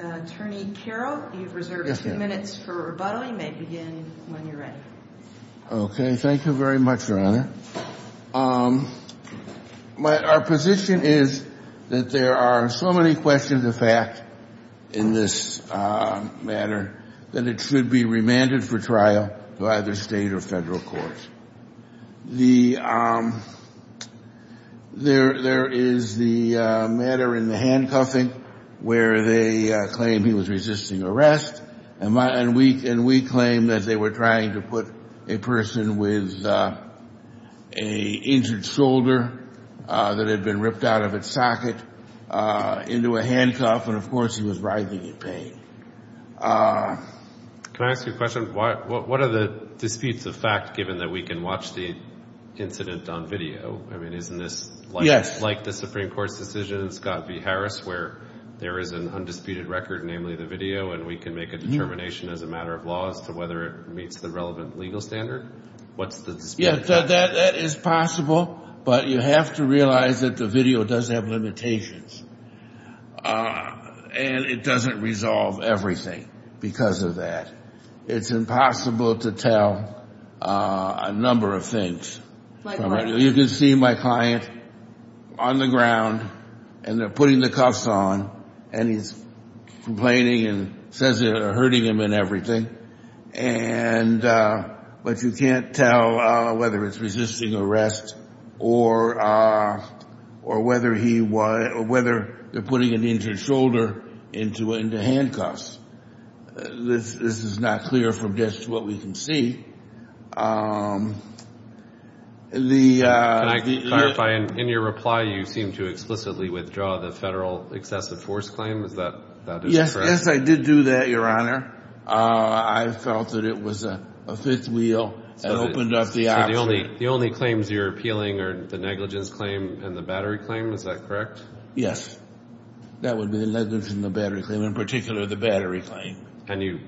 Attorney Carroll, you've reserved two minutes for rebuttal. You may begin when you're ready. Okay. Thank you very much, Your Honor. Our position is that there are so many questions of fact in this matter that it should be remanded for trial to either State or Federal courts. There is the matter in the handcuffing where they claim he was resisting arrest, and we claim that they were trying to put a person with an injured shoulder that had been ripped out of its socket into a handcuff, and, of course, he was writhing in pain. Can I ask you a question? What are the disputes of fact, given that we can watch the incident on video? I mean, isn't this like the Supreme Court's decision in Scott v. Harris where there is an undisputed record, namely the video, and we can make a determination as a matter of law as to whether it meets the relevant legal standard? Yes, that is possible, but you have to realize that the video does have limitations, and it doesn't resolve everything because of that. It's impossible to tell a number of things. You can see my client on the ground, and they're putting the cuffs on, and he's complaining and says they're hurting him and everything, but you can't tell whether it's resisting arrest or whether they're putting an injured shoulder into handcuffs. This is not clear from just what we can see. Can I clarify? In your reply, you seemed to explicitly withdraw the federal excessive force claim. Is that correct? Yes, I did do that, Your Honor. I felt that it was a fifth wheel that opened up the option. The only claims you're appealing are the negligence claim and the battery claim. Is that correct? Yes. That would be the negligence and the battery claim, in particular the battery claim. And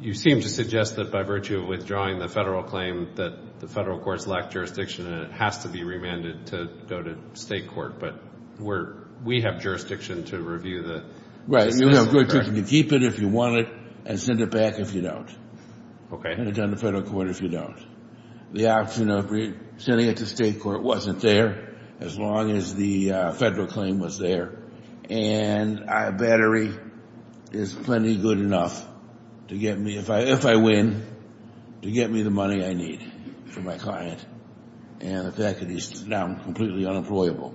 you seem to suggest that by virtue of withdrawing the federal claim that the federal courts lack jurisdiction, and it has to be remanded to go to state court, but we have jurisdiction to review the excessive force claim. Right. You can keep it if you want it and send it back if you don't. Okay. The option of sending it to state court wasn't there as long as the federal claim was there, and battery is plenty good enough to get me, if I win, to get me the money I need for my client, and the fact that he's now completely unemployable.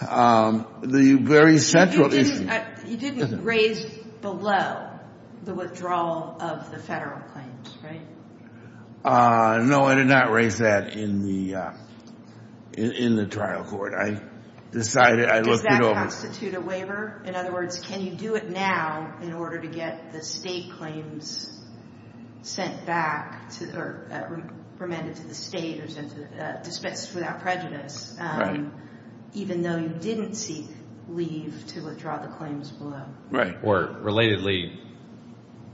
The very central issue. You didn't raise below the withdrawal of the federal claims, right? No, I did not raise that in the trial court. I decided I looked it over. In other words, can you do it now in order to get the state claims sent back or remanded to the state or dispensed without prejudice, even though you didn't seek leave to withdraw the claims below? Or, relatedly,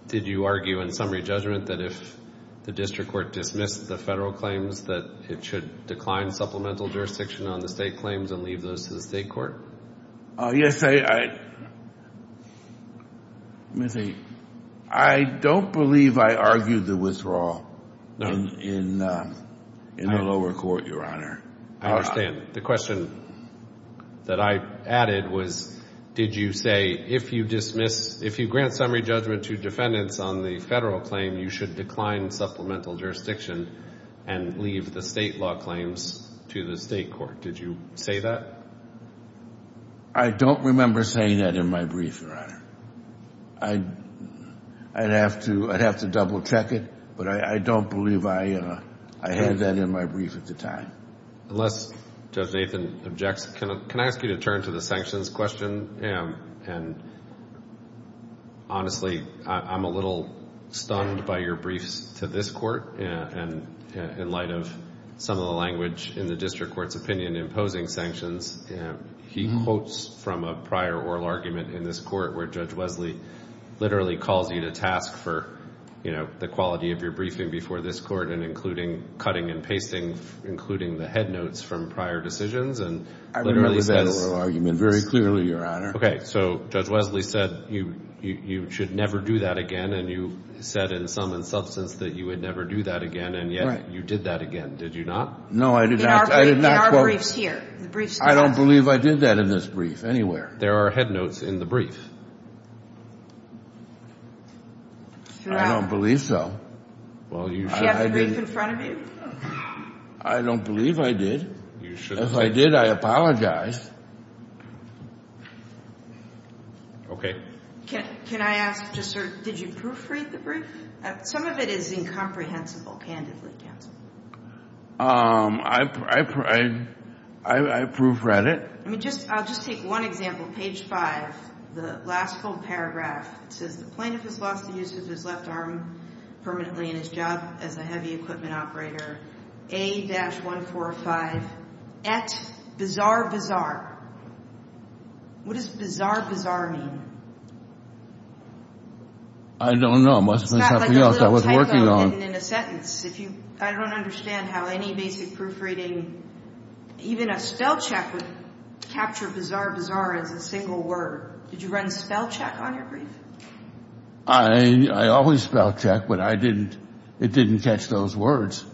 did you argue in summary judgment that if the district court dismissed the federal claims that it should decline supplemental jurisdiction on the state claims and leave those to the state court? Yes. I don't believe I argued the withdrawal in the lower court, Your Honor. I understand. The question that I added was, did you say, if you grant summary judgment to defendants on the federal claim, you should decline supplemental jurisdiction and leave the state law claims to the state court? Did you say that? I don't remember saying that in my brief, Your Honor. I'd have to double-check it, but I don't believe I had that in my brief at the time. Unless Judge Nathan objects, can I ask you to turn to the sanctions question? And, honestly, I'm a little stunned by your briefs to this court. And in light of some of the language in the district court's opinion imposing sanctions, he quotes from a prior oral argument in this court where Judge Wesley literally calls you to task for, you know, the quality of your briefing before this court and including cutting and pasting, including the headnotes from prior decisions. I remember that oral argument very clearly, Your Honor. Okay. So Judge Wesley said you should never do that again, and you said in sum and substance that you would never do that again, and yet you did that again. Did you not? No, I did not. In our briefs here. I don't believe I did that in this brief anywhere. There are headnotes in the brief. I don't believe so. Do you have the brief in front of you? I don't believe I did. If I did, I apologize. Can I ask, just sort of, did you proofread the brief? Some of it is incomprehensible, candidly, counsel. I proofread it. I'll just take one example, page five, the last full paragraph. It says the plaintiff has lost the use of his left arm permanently in his job as a heavy equipment operator. A-145, et bizarre bizarre. What does bizarre bizarre mean? I don't know. It must have been something else I was working on. I don't understand how any basic proofreading, even a spellcheck would capture bizarre bizarre as a single word. Did you run spellcheck on your brief? I always spellcheck, but it didn't catch those words,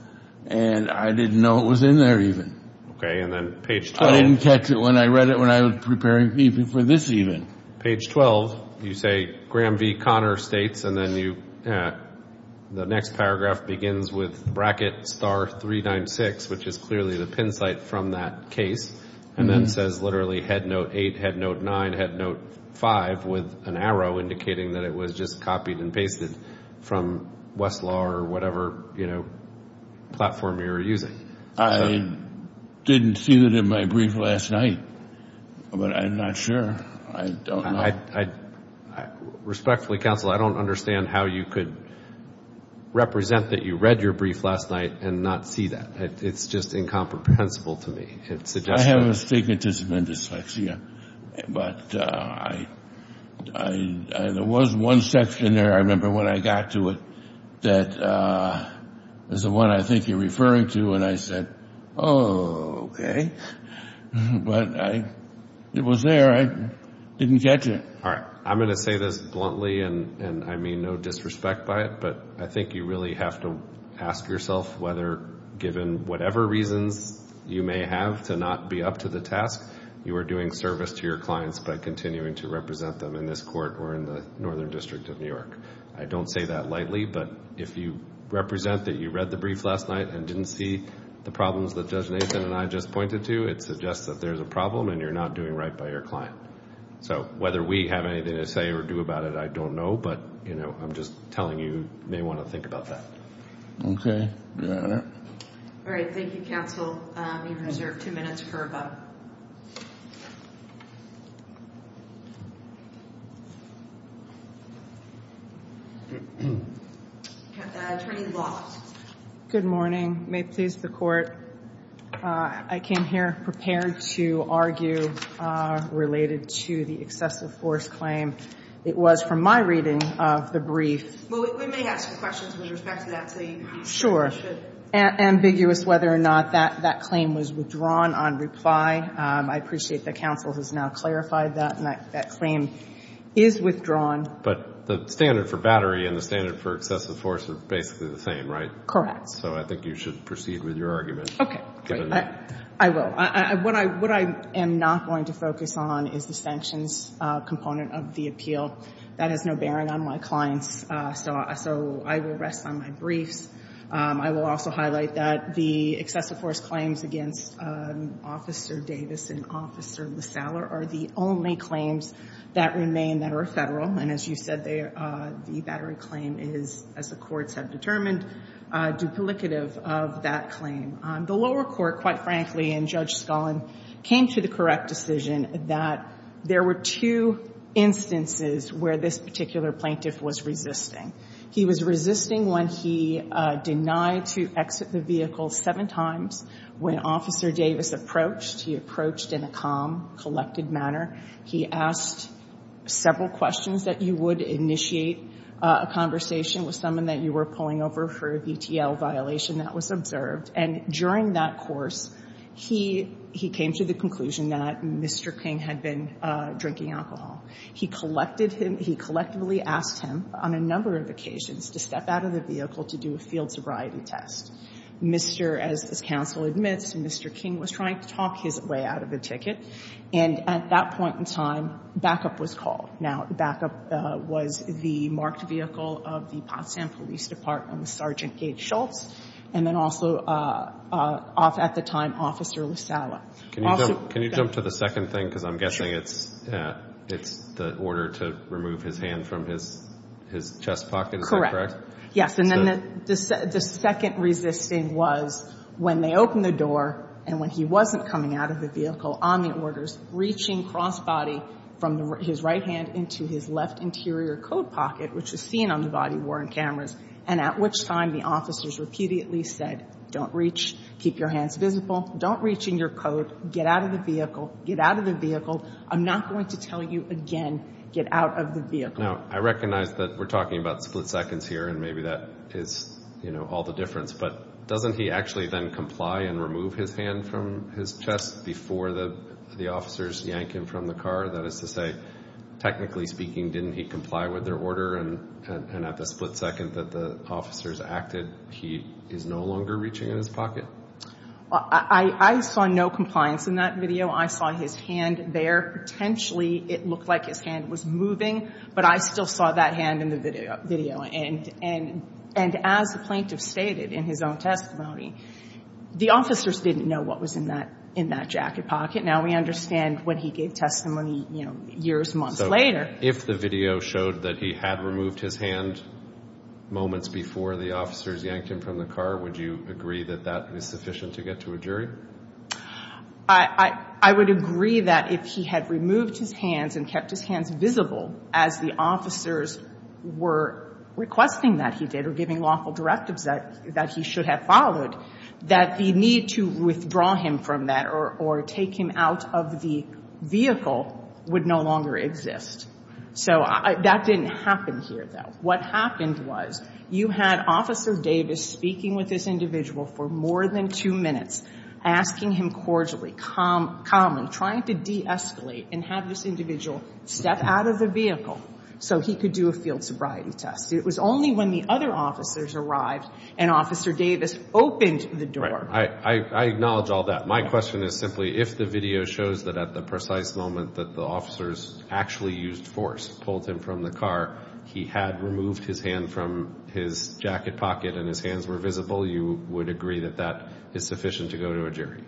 and I didn't know it was in there even. Okay, and then page 12. I didn't catch it when I read it when I was preparing even for this even. Page 12, you say Graham V. Connor states, and then the next paragraph begins with bracket star 396, which is clearly the pin site from that case, and then says literally head note eight, head note nine, head note five with an arrow indicating that it was just copied and pasted from Westlaw or whatever platform you were using. I didn't see that in my brief last night, but I'm not sure. I don't know. Respectfully, counsel, I don't understand how you could represent that you read your brief last night and not see that. It's just incomprehensible to me. I have astigmatism and dyslexia, but there was one section there, I remember when I got to it, that was the one I think you're referring to, and I said, oh, okay. But it was there. I didn't catch it. All right. I'm going to say this bluntly, and I mean no disrespect by it, but I think you really have to ask yourself whether given whatever reasons you may have to not be up to the task, you are doing service to your clients by continuing to represent them in this court or in the Northern District of New York. I don't say that lightly, but if you represent that you read the brief last night and didn't see the problems that Judge Nathan and I just pointed to, it suggests that there's a problem and you're not doing right by your client. So whether we have anything to say or do about it, I don't know, but I'm just telling you you may want to think about that. Okay. Got it. All right. Thank you, counsel. You've reserved two minutes for rebuttal. Attorney Law. Good morning. May it please the Court. I came here prepared to argue related to the excessive force claim. It was from my reading of the brief. Well, we may ask questions with respect to that, too. Sure. Ambiguous whether or not that claim was withdrawn on reply. I appreciate that counsel has now clarified that, and that claim is withdrawn. But the standard for battery and the standard for excessive force are basically the same, right? Correct. So I think you should proceed with your argument. Okay. I will. What I am not going to focus on is the sanctions component of the appeal. That has no bearing on my clients, so I will rest on my briefs. I will also highlight that the excessive force claims against Officer Davis and Officer LaSallar are the only claims that remain that are Federal. And as you said, the battery claim is, as the courts have determined, duplicative of that claim. The lower court, quite frankly, and Judge Scullin, came to the correct decision that there were two instances where this particular plaintiff was resisting. He was resisting when he denied to exit the vehicle seven times. When Officer Davis approached, he approached in a calm, collected manner. He asked several questions that you would initiate a conversation with someone that you were pulling over for a VTL violation that was observed. And during that course, he came to the conclusion that Mr. King had been drinking alcohol. He collectively asked him on a number of occasions to step out of the vehicle to do a field sobriety test. Mr. as this counsel admits, Mr. King was trying to talk his way out of the ticket. And at that point in time, backup was called. Now, backup was the marked vehicle of the Potsdam Police Department, Sergeant Gage Schultz, and then also at the time, Officer LaSallar. Can you jump to the second thing? Because I'm guessing it's the order to remove his hand from his chest pocket. Is that correct? Yes, and then the second resisting was when they opened the door and when he wasn't coming out of the vehicle on the orders, reaching cross-body from his right hand into his left interior coat pocket, which is seen on the body-worn cameras, and at which time the officers repeatedly said, don't reach, keep your hands visible, don't reach in your coat, get out of the vehicle, get out of the vehicle. I'm not going to tell you again, get out of the vehicle. Now, I recognize that we're talking about split seconds here, and maybe that is, you know, all the difference, but doesn't he actually then comply and remove his hand from his chest before the officers yank him from the car? That is to say, technically speaking, didn't he comply with their order and at the split second that the officers acted, he is no longer reaching in his pocket? I saw no compliance in that video. I saw his hand there. Potentially it looked like his hand was moving, but I still saw that hand in the video. And as the plaintiff stated in his own testimony, the officers didn't know what was in that jacket pocket. Now we understand what he gave testimony, you know, years, months later. So if the video showed that he had removed his hand moments before the officers yanked him from the car, would you agree that that is sufficient to get to a jury? I would agree that if he had removed his hands and kept his hands visible as the officers were requesting that he did or giving lawful directives that he should have followed, that the need to withdraw him from that or take him out of the vehicle would no longer exist. So that didn't happen here, though. What happened was you had Officer Davis speaking with this individual for more than two minutes, asking him cordially, calmly, trying to de-escalate and have this individual step out of the vehicle so he could do a field sobriety test. It was only when the other officers arrived and Officer Davis opened the door. I acknowledge all that. My question is simply if the video shows that at the precise moment that the officers actually used force, pulled him from the car, he had removed his hand from his jacket pocket and his hands were visible, you would agree that that is sufficient to go to a jury?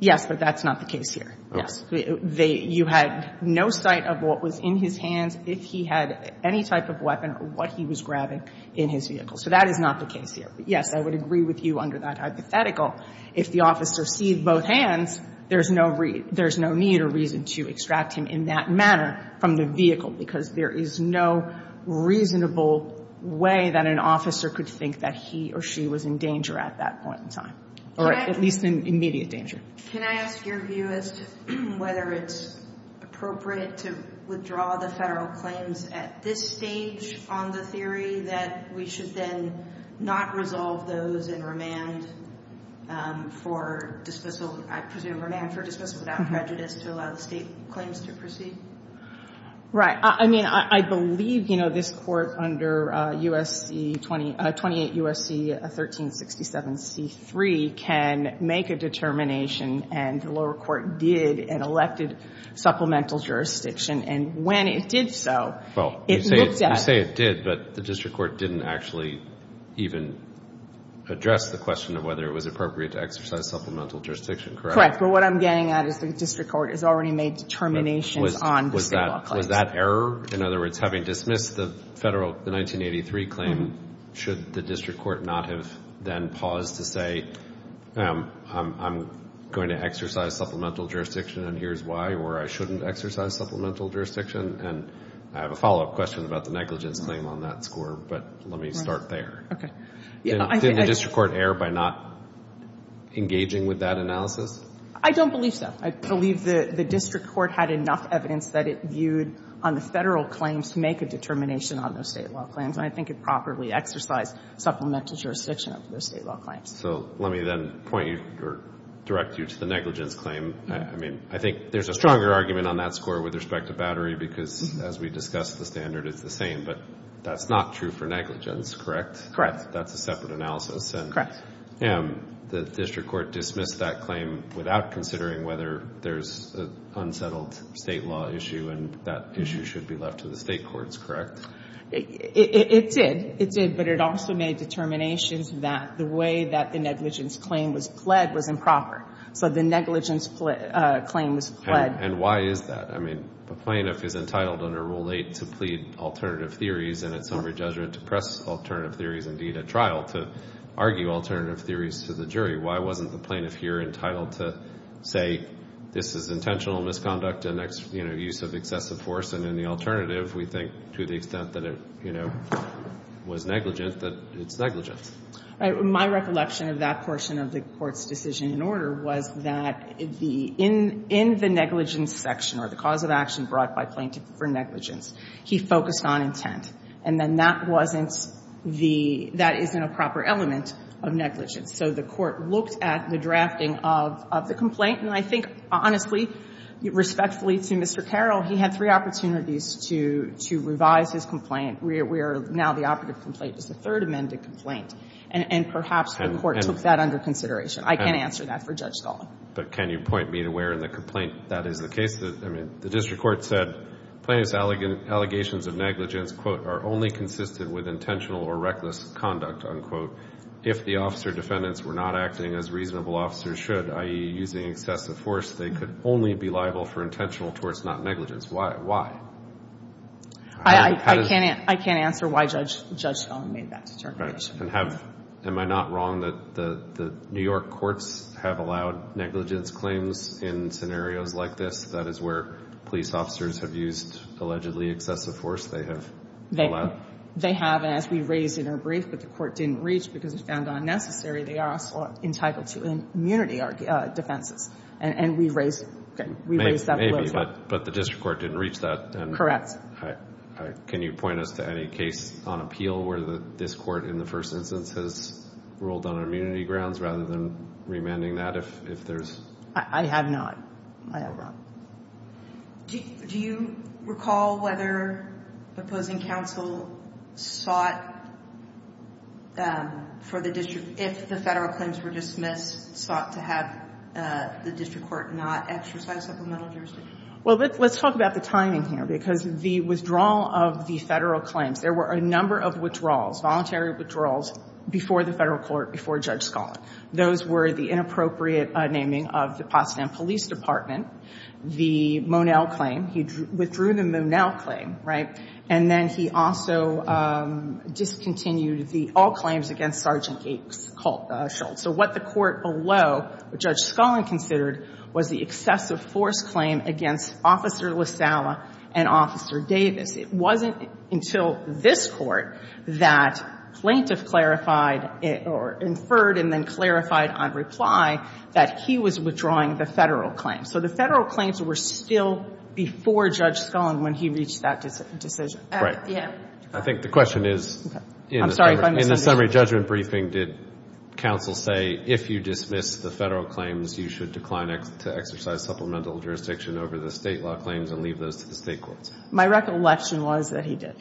Yes, but that's not the case here. Yes. You had no sight of what was in his hands, if he had any type of weapon or what he was grabbing in his vehicle. So that is not the case here. But, yes, I would agree with you under that hypothetical. If the officers see both hands, there's no need or reason to extract him in that manner from the vehicle, because there is no reasonable way that an officer could think that he or she was in danger at that point in time, or at least in immediate danger. Can I ask your view as to whether it's appropriate to withdraw the Federal claims at this stage on the theory that we should then not resolve those and remand for dismissal, I presume remand for dismissal without prejudice, to allow the State claims to proceed? Right. I mean, I believe, you know, this Court under U.S.C. 20 — 28 U.S.C. 1367c3 can make a determination, and the lower court did and elected supplemental jurisdiction. And when it did so, it looked at — Well, you say it did, but the district court didn't actually even address the question of whether it was appropriate to exercise supplemental jurisdiction, correct? Correct. But what I'm getting at is the district court has already made determinations on the State law claims. Was that error? In other words, having dismissed the Federal 1983 claim, should the district court not have then paused to say, I'm going to exercise supplemental jurisdiction and here's why, or I shouldn't exercise supplemental jurisdiction? And I have a follow-up question about the negligence claim on that score, but let me start there. Okay. Didn't the district court err by not engaging with that analysis? I don't believe so. I believe the district court had enough evidence that it viewed on the Federal claims to make a determination on those State law claims, and I think it properly exercised supplemental jurisdiction on those State law claims. So let me then point you or direct you to the negligence claim. I mean, I think there's a stronger argument on that score with respect to Battery because, as we discussed, the standard is the same, but that's not true for negligence, correct? Correct. That's a separate analysis. Correct. The district court dismissed that claim without considering whether there's an unsettled State law issue and that issue should be left to the State courts, correct? It did. It did, but it also made determinations that the way that the negligence claim was pled was improper. So the negligence claim was pled. And why is that? I mean, a plaintiff is entitled under Rule 8 to plead alternative theories and it's indeed a trial to argue alternative theories to the jury. Why wasn't the plaintiff here entitled to say this is intentional misconduct and use of excessive force, and in the alternative we think to the extent that it was negligent, that it's negligence. My recollection of that portion of the court's decision in order was that in the negligence section or the cause of action brought by plaintiff for negligence, he focused on intent. And then that wasn't the, that isn't a proper element of negligence. So the court looked at the drafting of the complaint and I think honestly, respectfully to Mr. Carroll, he had three opportunities to revise his complaint where now the operative complaint is the third amended complaint. And perhaps the court took that under consideration. I can't answer that for Judge Stahl. But can you point me to where in the complaint that is the case? I mean, the district court said plaintiff's allegations of negligence, quote, are only consistent with intentional or reckless conduct, unquote. If the officer defendants were not acting as reasonable officers should, i.e. using excessive force, they could only be liable for intentional torts, not negligence. Why? I can't answer why Judge Stahl made that determination. Am I not wrong that the New York courts have allowed negligence claims in scenarios like this? That is where police officers have used allegedly excessive force? They have allowed? They have. And as we raised in our brief, but the court didn't reach because it found unnecessary, they are also entitled to immunity defenses. And we raised that a little bit. Maybe. But the district court didn't reach that. Correct. Can you point us to any case on appeal where this court in the first instance has ruled on immunity grounds rather than remanding that if there's? I have not. Am I wrong? Do you recall whether opposing counsel sought for the district, if the federal claims were dismissed, sought to have the district court not exercise supplemental jurisdiction? Well, let's talk about the timing here, because the withdrawal of the federal claims, there were a number of withdrawals, voluntary withdrawals, before the federal court, before Judge Stahl. Those were the inappropriate naming of the Potsdam Police Department, the Monell claim. He withdrew the Monell claim, right? And then he also discontinued the all claims against Sergeant A. Schultz. So what the court below, Judge Scullin considered, was the excessive force claim against Officer LaSalla and Officer Davis. It wasn't until this court that plaintiff clarified or inferred and then clarified on reply that he was withdrawing the federal claims. So the federal claims were still before Judge Scullin when he reached that decision. I think the question is, in the summary judgment briefing, did counsel say if you dismiss the federal claims, you should decline to exercise supplemental jurisdiction over the State law claims and leave those to the State courts? My recollection was that he did.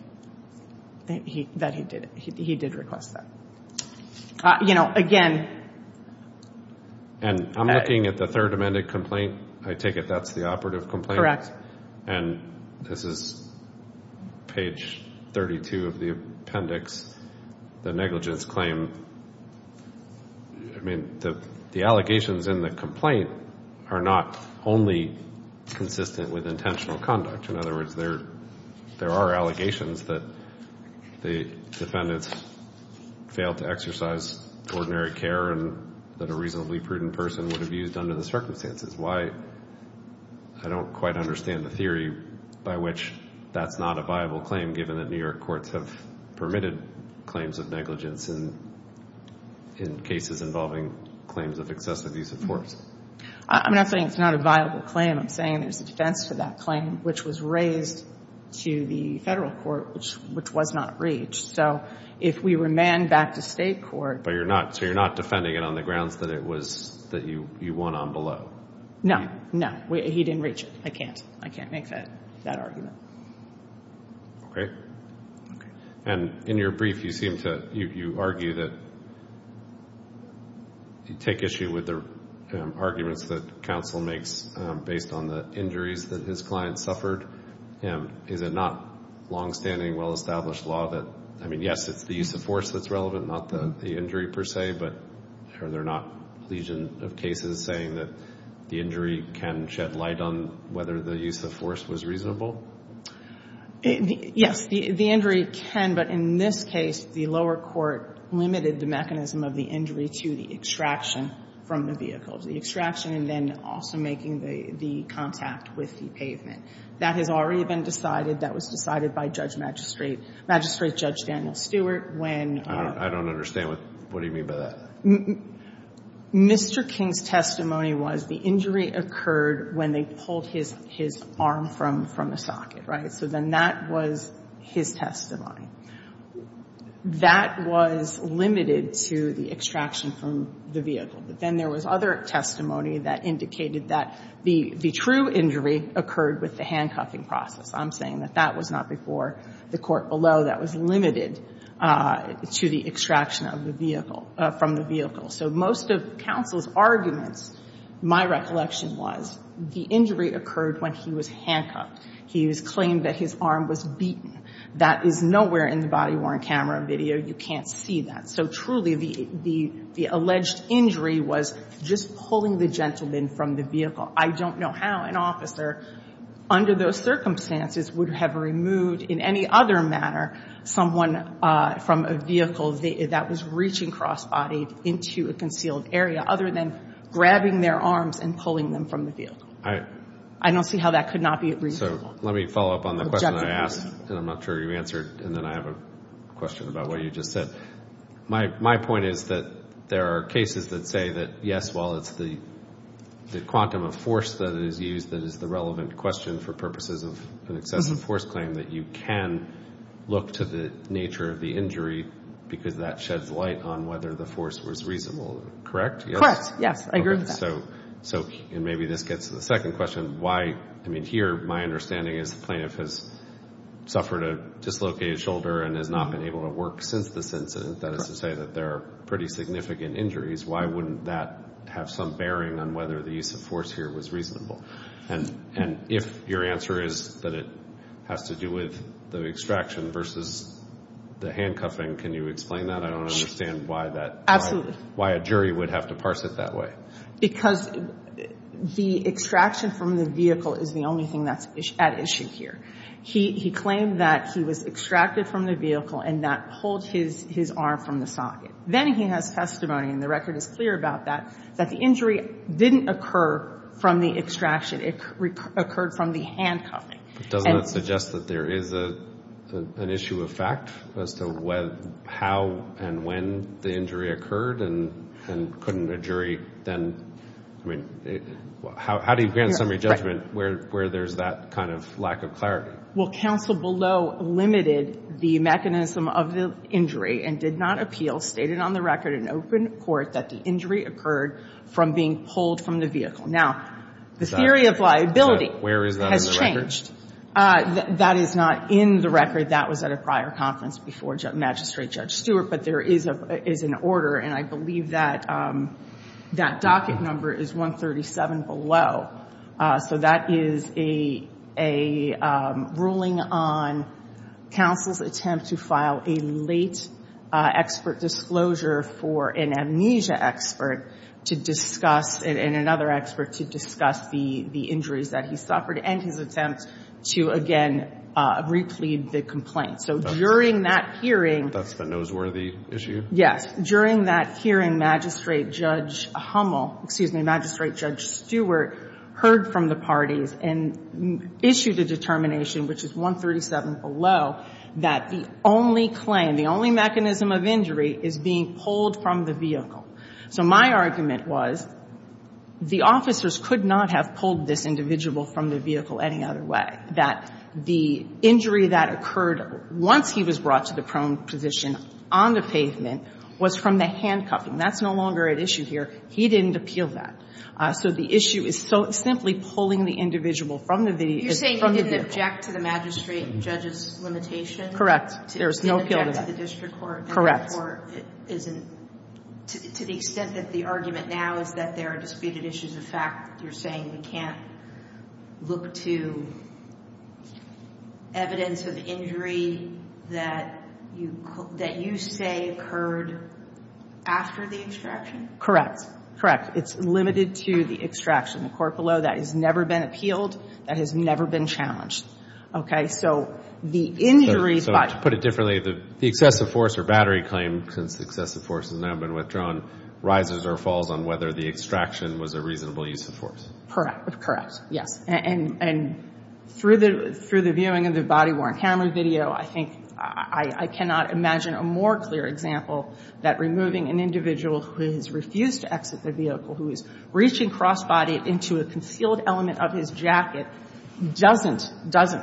That he did. He did request that. You know, again. And I'm looking at the third amended complaint. I take it that's the operative complaint? And this is page 32 of the appendix, the negligence claim. I mean, the allegations in the complaint are not only consistent with intentional conduct. In other words, there are allegations that the defendants failed to exercise ordinary care and that a reasonably prudent person would have used under the circumstances. Why, I don't quite understand the theory by which that's not a viable claim given that New York courts have permitted claims of negligence in cases involving claims of excessive use of force. I'm not saying it's not a viable claim. I'm saying there's a defense for that claim, which was raised to the federal court, which was not reached. So if we remand back to State court. So you're not defending it on the grounds that it was that you won on below? No. No. He didn't reach it. I can't. I can't make that argument. Okay. And in your brief, you seem to argue that you take issue with the arguments that counsel makes based on the injuries that his client suffered. Is it not longstanding, well-established law that, I mean, yes, it's the use of force that's relevant, not the injury per se, but are there not legion of cases saying that the injury can shed light on whether the use of force was reasonable? Yes, the injury can, but in this case, the lower court limited the mechanism of the injury to the extraction from the vehicle. The extraction and then also making the contact with the pavement. That has already been decided. That was decided by Judge Magistrate, Magistrate Judge Daniel Stewart, when. I don't understand. What do you mean by that? Mr. King's testimony was the injury occurred when they pulled his arm from the socket, right? So then that was his testimony. That was limited to the extraction from the vehicle. But then there was other testimony that indicated that the true injury occurred with the handcuffing process. I'm saying that that was not before the court below. That was limited to the extraction of the vehicle, from the vehicle. So most of counsel's arguments, my recollection was, the injury occurred when he was handcuffed. He was claimed that his arm was beaten. That is nowhere in the body-worn camera video. You can't see that. So truly, the alleged injury was just pulling the gentleman from the vehicle. I don't know how an officer, under those circumstances, would have removed in any other manner someone from a vehicle that was reaching cross-bodied into a concealed area, other than grabbing their arms and pulling them from the vehicle. I don't see how that could not be reasonable. So let me follow up on the question I asked, and I'm not sure you answered, and then I have a question about what you just said. My point is that there are cases that say that, yes, well, it's the quantum of force that is used that is the relevant question for purposes of an excessive force claim, that you can look to the nature of the injury because that sheds light on whether the force was reasonable. Correct? Correct, yes. I agree with that. So maybe this gets to the second question. Here, my understanding is the plaintiff has suffered a dislocated shoulder and has not been able to work since this incident. That is to say that there are pretty significant injuries. Why wouldn't that have some bearing on whether the use of force here was reasonable? And if your answer is that it has to do with the extraction versus the handcuffing, can you explain that? I don't understand why a jury would have to parse it that way. Because the extraction from the vehicle is the only thing that's at issue here. He claimed that he was extracted from the vehicle and that pulled his arm from the socket. Then he has testimony, and the record is clear about that, that the injury didn't occur from the extraction. It occurred from the handcuffing. Doesn't that suggest that there is an issue of fact as to how and when the injury occurred and couldn't a jury then, I mean, how do you grant summary judgment where there's that kind of lack of clarity? Well, counsel below limited the mechanism of the injury and did not appeal, stated on the record in open court that the injury occurred from being pulled from the vehicle. Now, the theory of liability has changed. Where is that in the record? That is not in the record. That was at a prior conference before Magistrate Judge Stewart. But there is an order, and I believe that that docket number is 137 below. So that is a ruling on counsel's attempt to file a late expert disclosure for an amnesia expert to discuss and another expert to discuss the injuries that he suffered and his attempt to, again, replead the complaint. So during that hearing. That's the noseworthy issue? Yes. During that hearing, Magistrate Judge Hummel, excuse me, Magistrate Judge Stewart heard from the parties and issued a determination, which is 137 below, that the only claim, the only mechanism of injury is being pulled from the vehicle. So my argument was the officers could not have pulled this individual from the vehicle any other way, that the injury that occurred once he was brought to the prone position on the pavement was from the handcuffing. That's no longer at issue here. He didn't appeal that. So the issue is simply pulling the individual from the vehicle. You're saying he didn't object to the magistrate judge's limitation? Correct. There was no appeal to that. He didn't object to the district court? Correct. To the extent that the argument now is that there are disputed issues of fact, you're saying you can't look to evidence of injury that you say occurred after the extraction? Correct. Correct. It's limited to the extraction. The court below, that has never been appealed. That has never been challenged. Okay? So the injury by... To put it differently, the excessive force or battery claim, since the excessive force has now been withdrawn, rises or falls on whether the extraction was a reasonable use of force. Correct. Yes. And through the viewing of the body-worn camera video, I think I cannot imagine a more clear example that removing an individual who has refused to exit the vehicle, who is reaching cross-bodied into a concealed element of his jacket, doesn't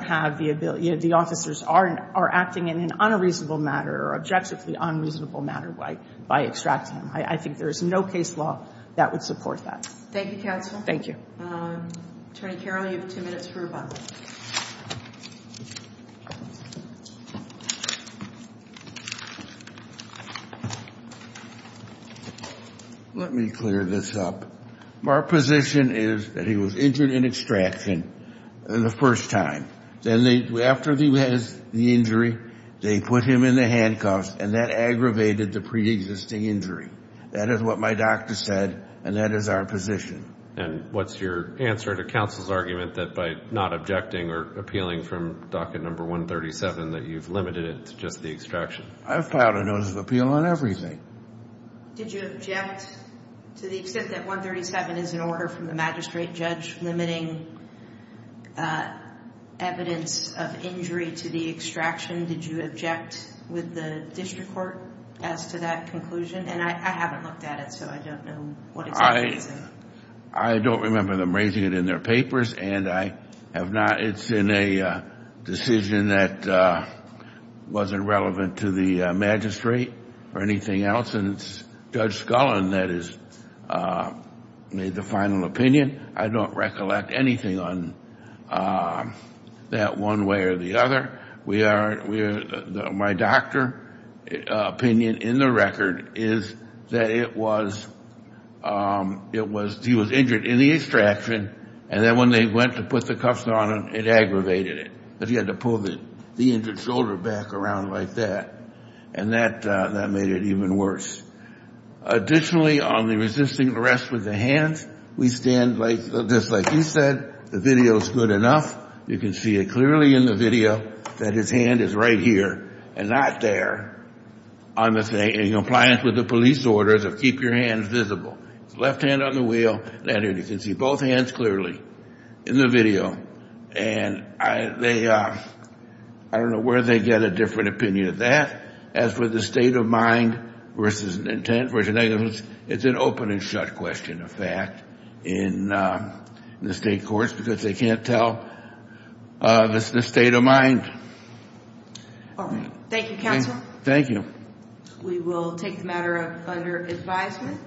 have the ability... the officers are acting in an unreasonable matter or objectively unreasonable matter by extracting him. I think there is no case law that would support that. Thank you, counsel. Thank you. Attorney Carroll, you have two minutes for rebuttal. Let me clear this up. Our position is that he was injured in extraction the first time. Then after he has the injury, they put him in the handcuffs, and that aggravated the preexisting injury. That is what my doctor said, and that is our position. And what's your answer to counsel's argument that by not objecting or appealing from docket number 137 that you've limited it to just the extraction? I've filed a notice of appeal on everything. Did you object to the extent that 137 is an order from the magistrate judge limiting evidence of injury to the extraction? Did you object with the district court as to that conclusion? And I haven't looked at it, so I don't know what exactly is it. I don't remember them raising it in their papers, and I have not. It's in a decision that wasn't relevant to the magistrate or anything else, and it's Judge Scullin that has made the final opinion. I don't recollect anything on that one way or the other. My doctor opinion in the record is that he was injured in the extraction, and then when they went to put the cuffs on him, it aggravated it. He had to pull the injured shoulder back around like that, and that made it even worse. Additionally, on the resisting arrest with the hands, we stand just like you said. The video is good enough. You can see it clearly in the video that his hand is right here and not there in compliance with the police orders of keep your hands visible. His left hand on the wheel, and you can see both hands clearly in the video. And I don't know where they get a different opinion of that. As for the state of mind versus intent versus negligence, it's an open and shut question of fact in the state courts because they can't tell the state of mind. All right. Thank you, counsel. Thank you. We will take the matter under advisement.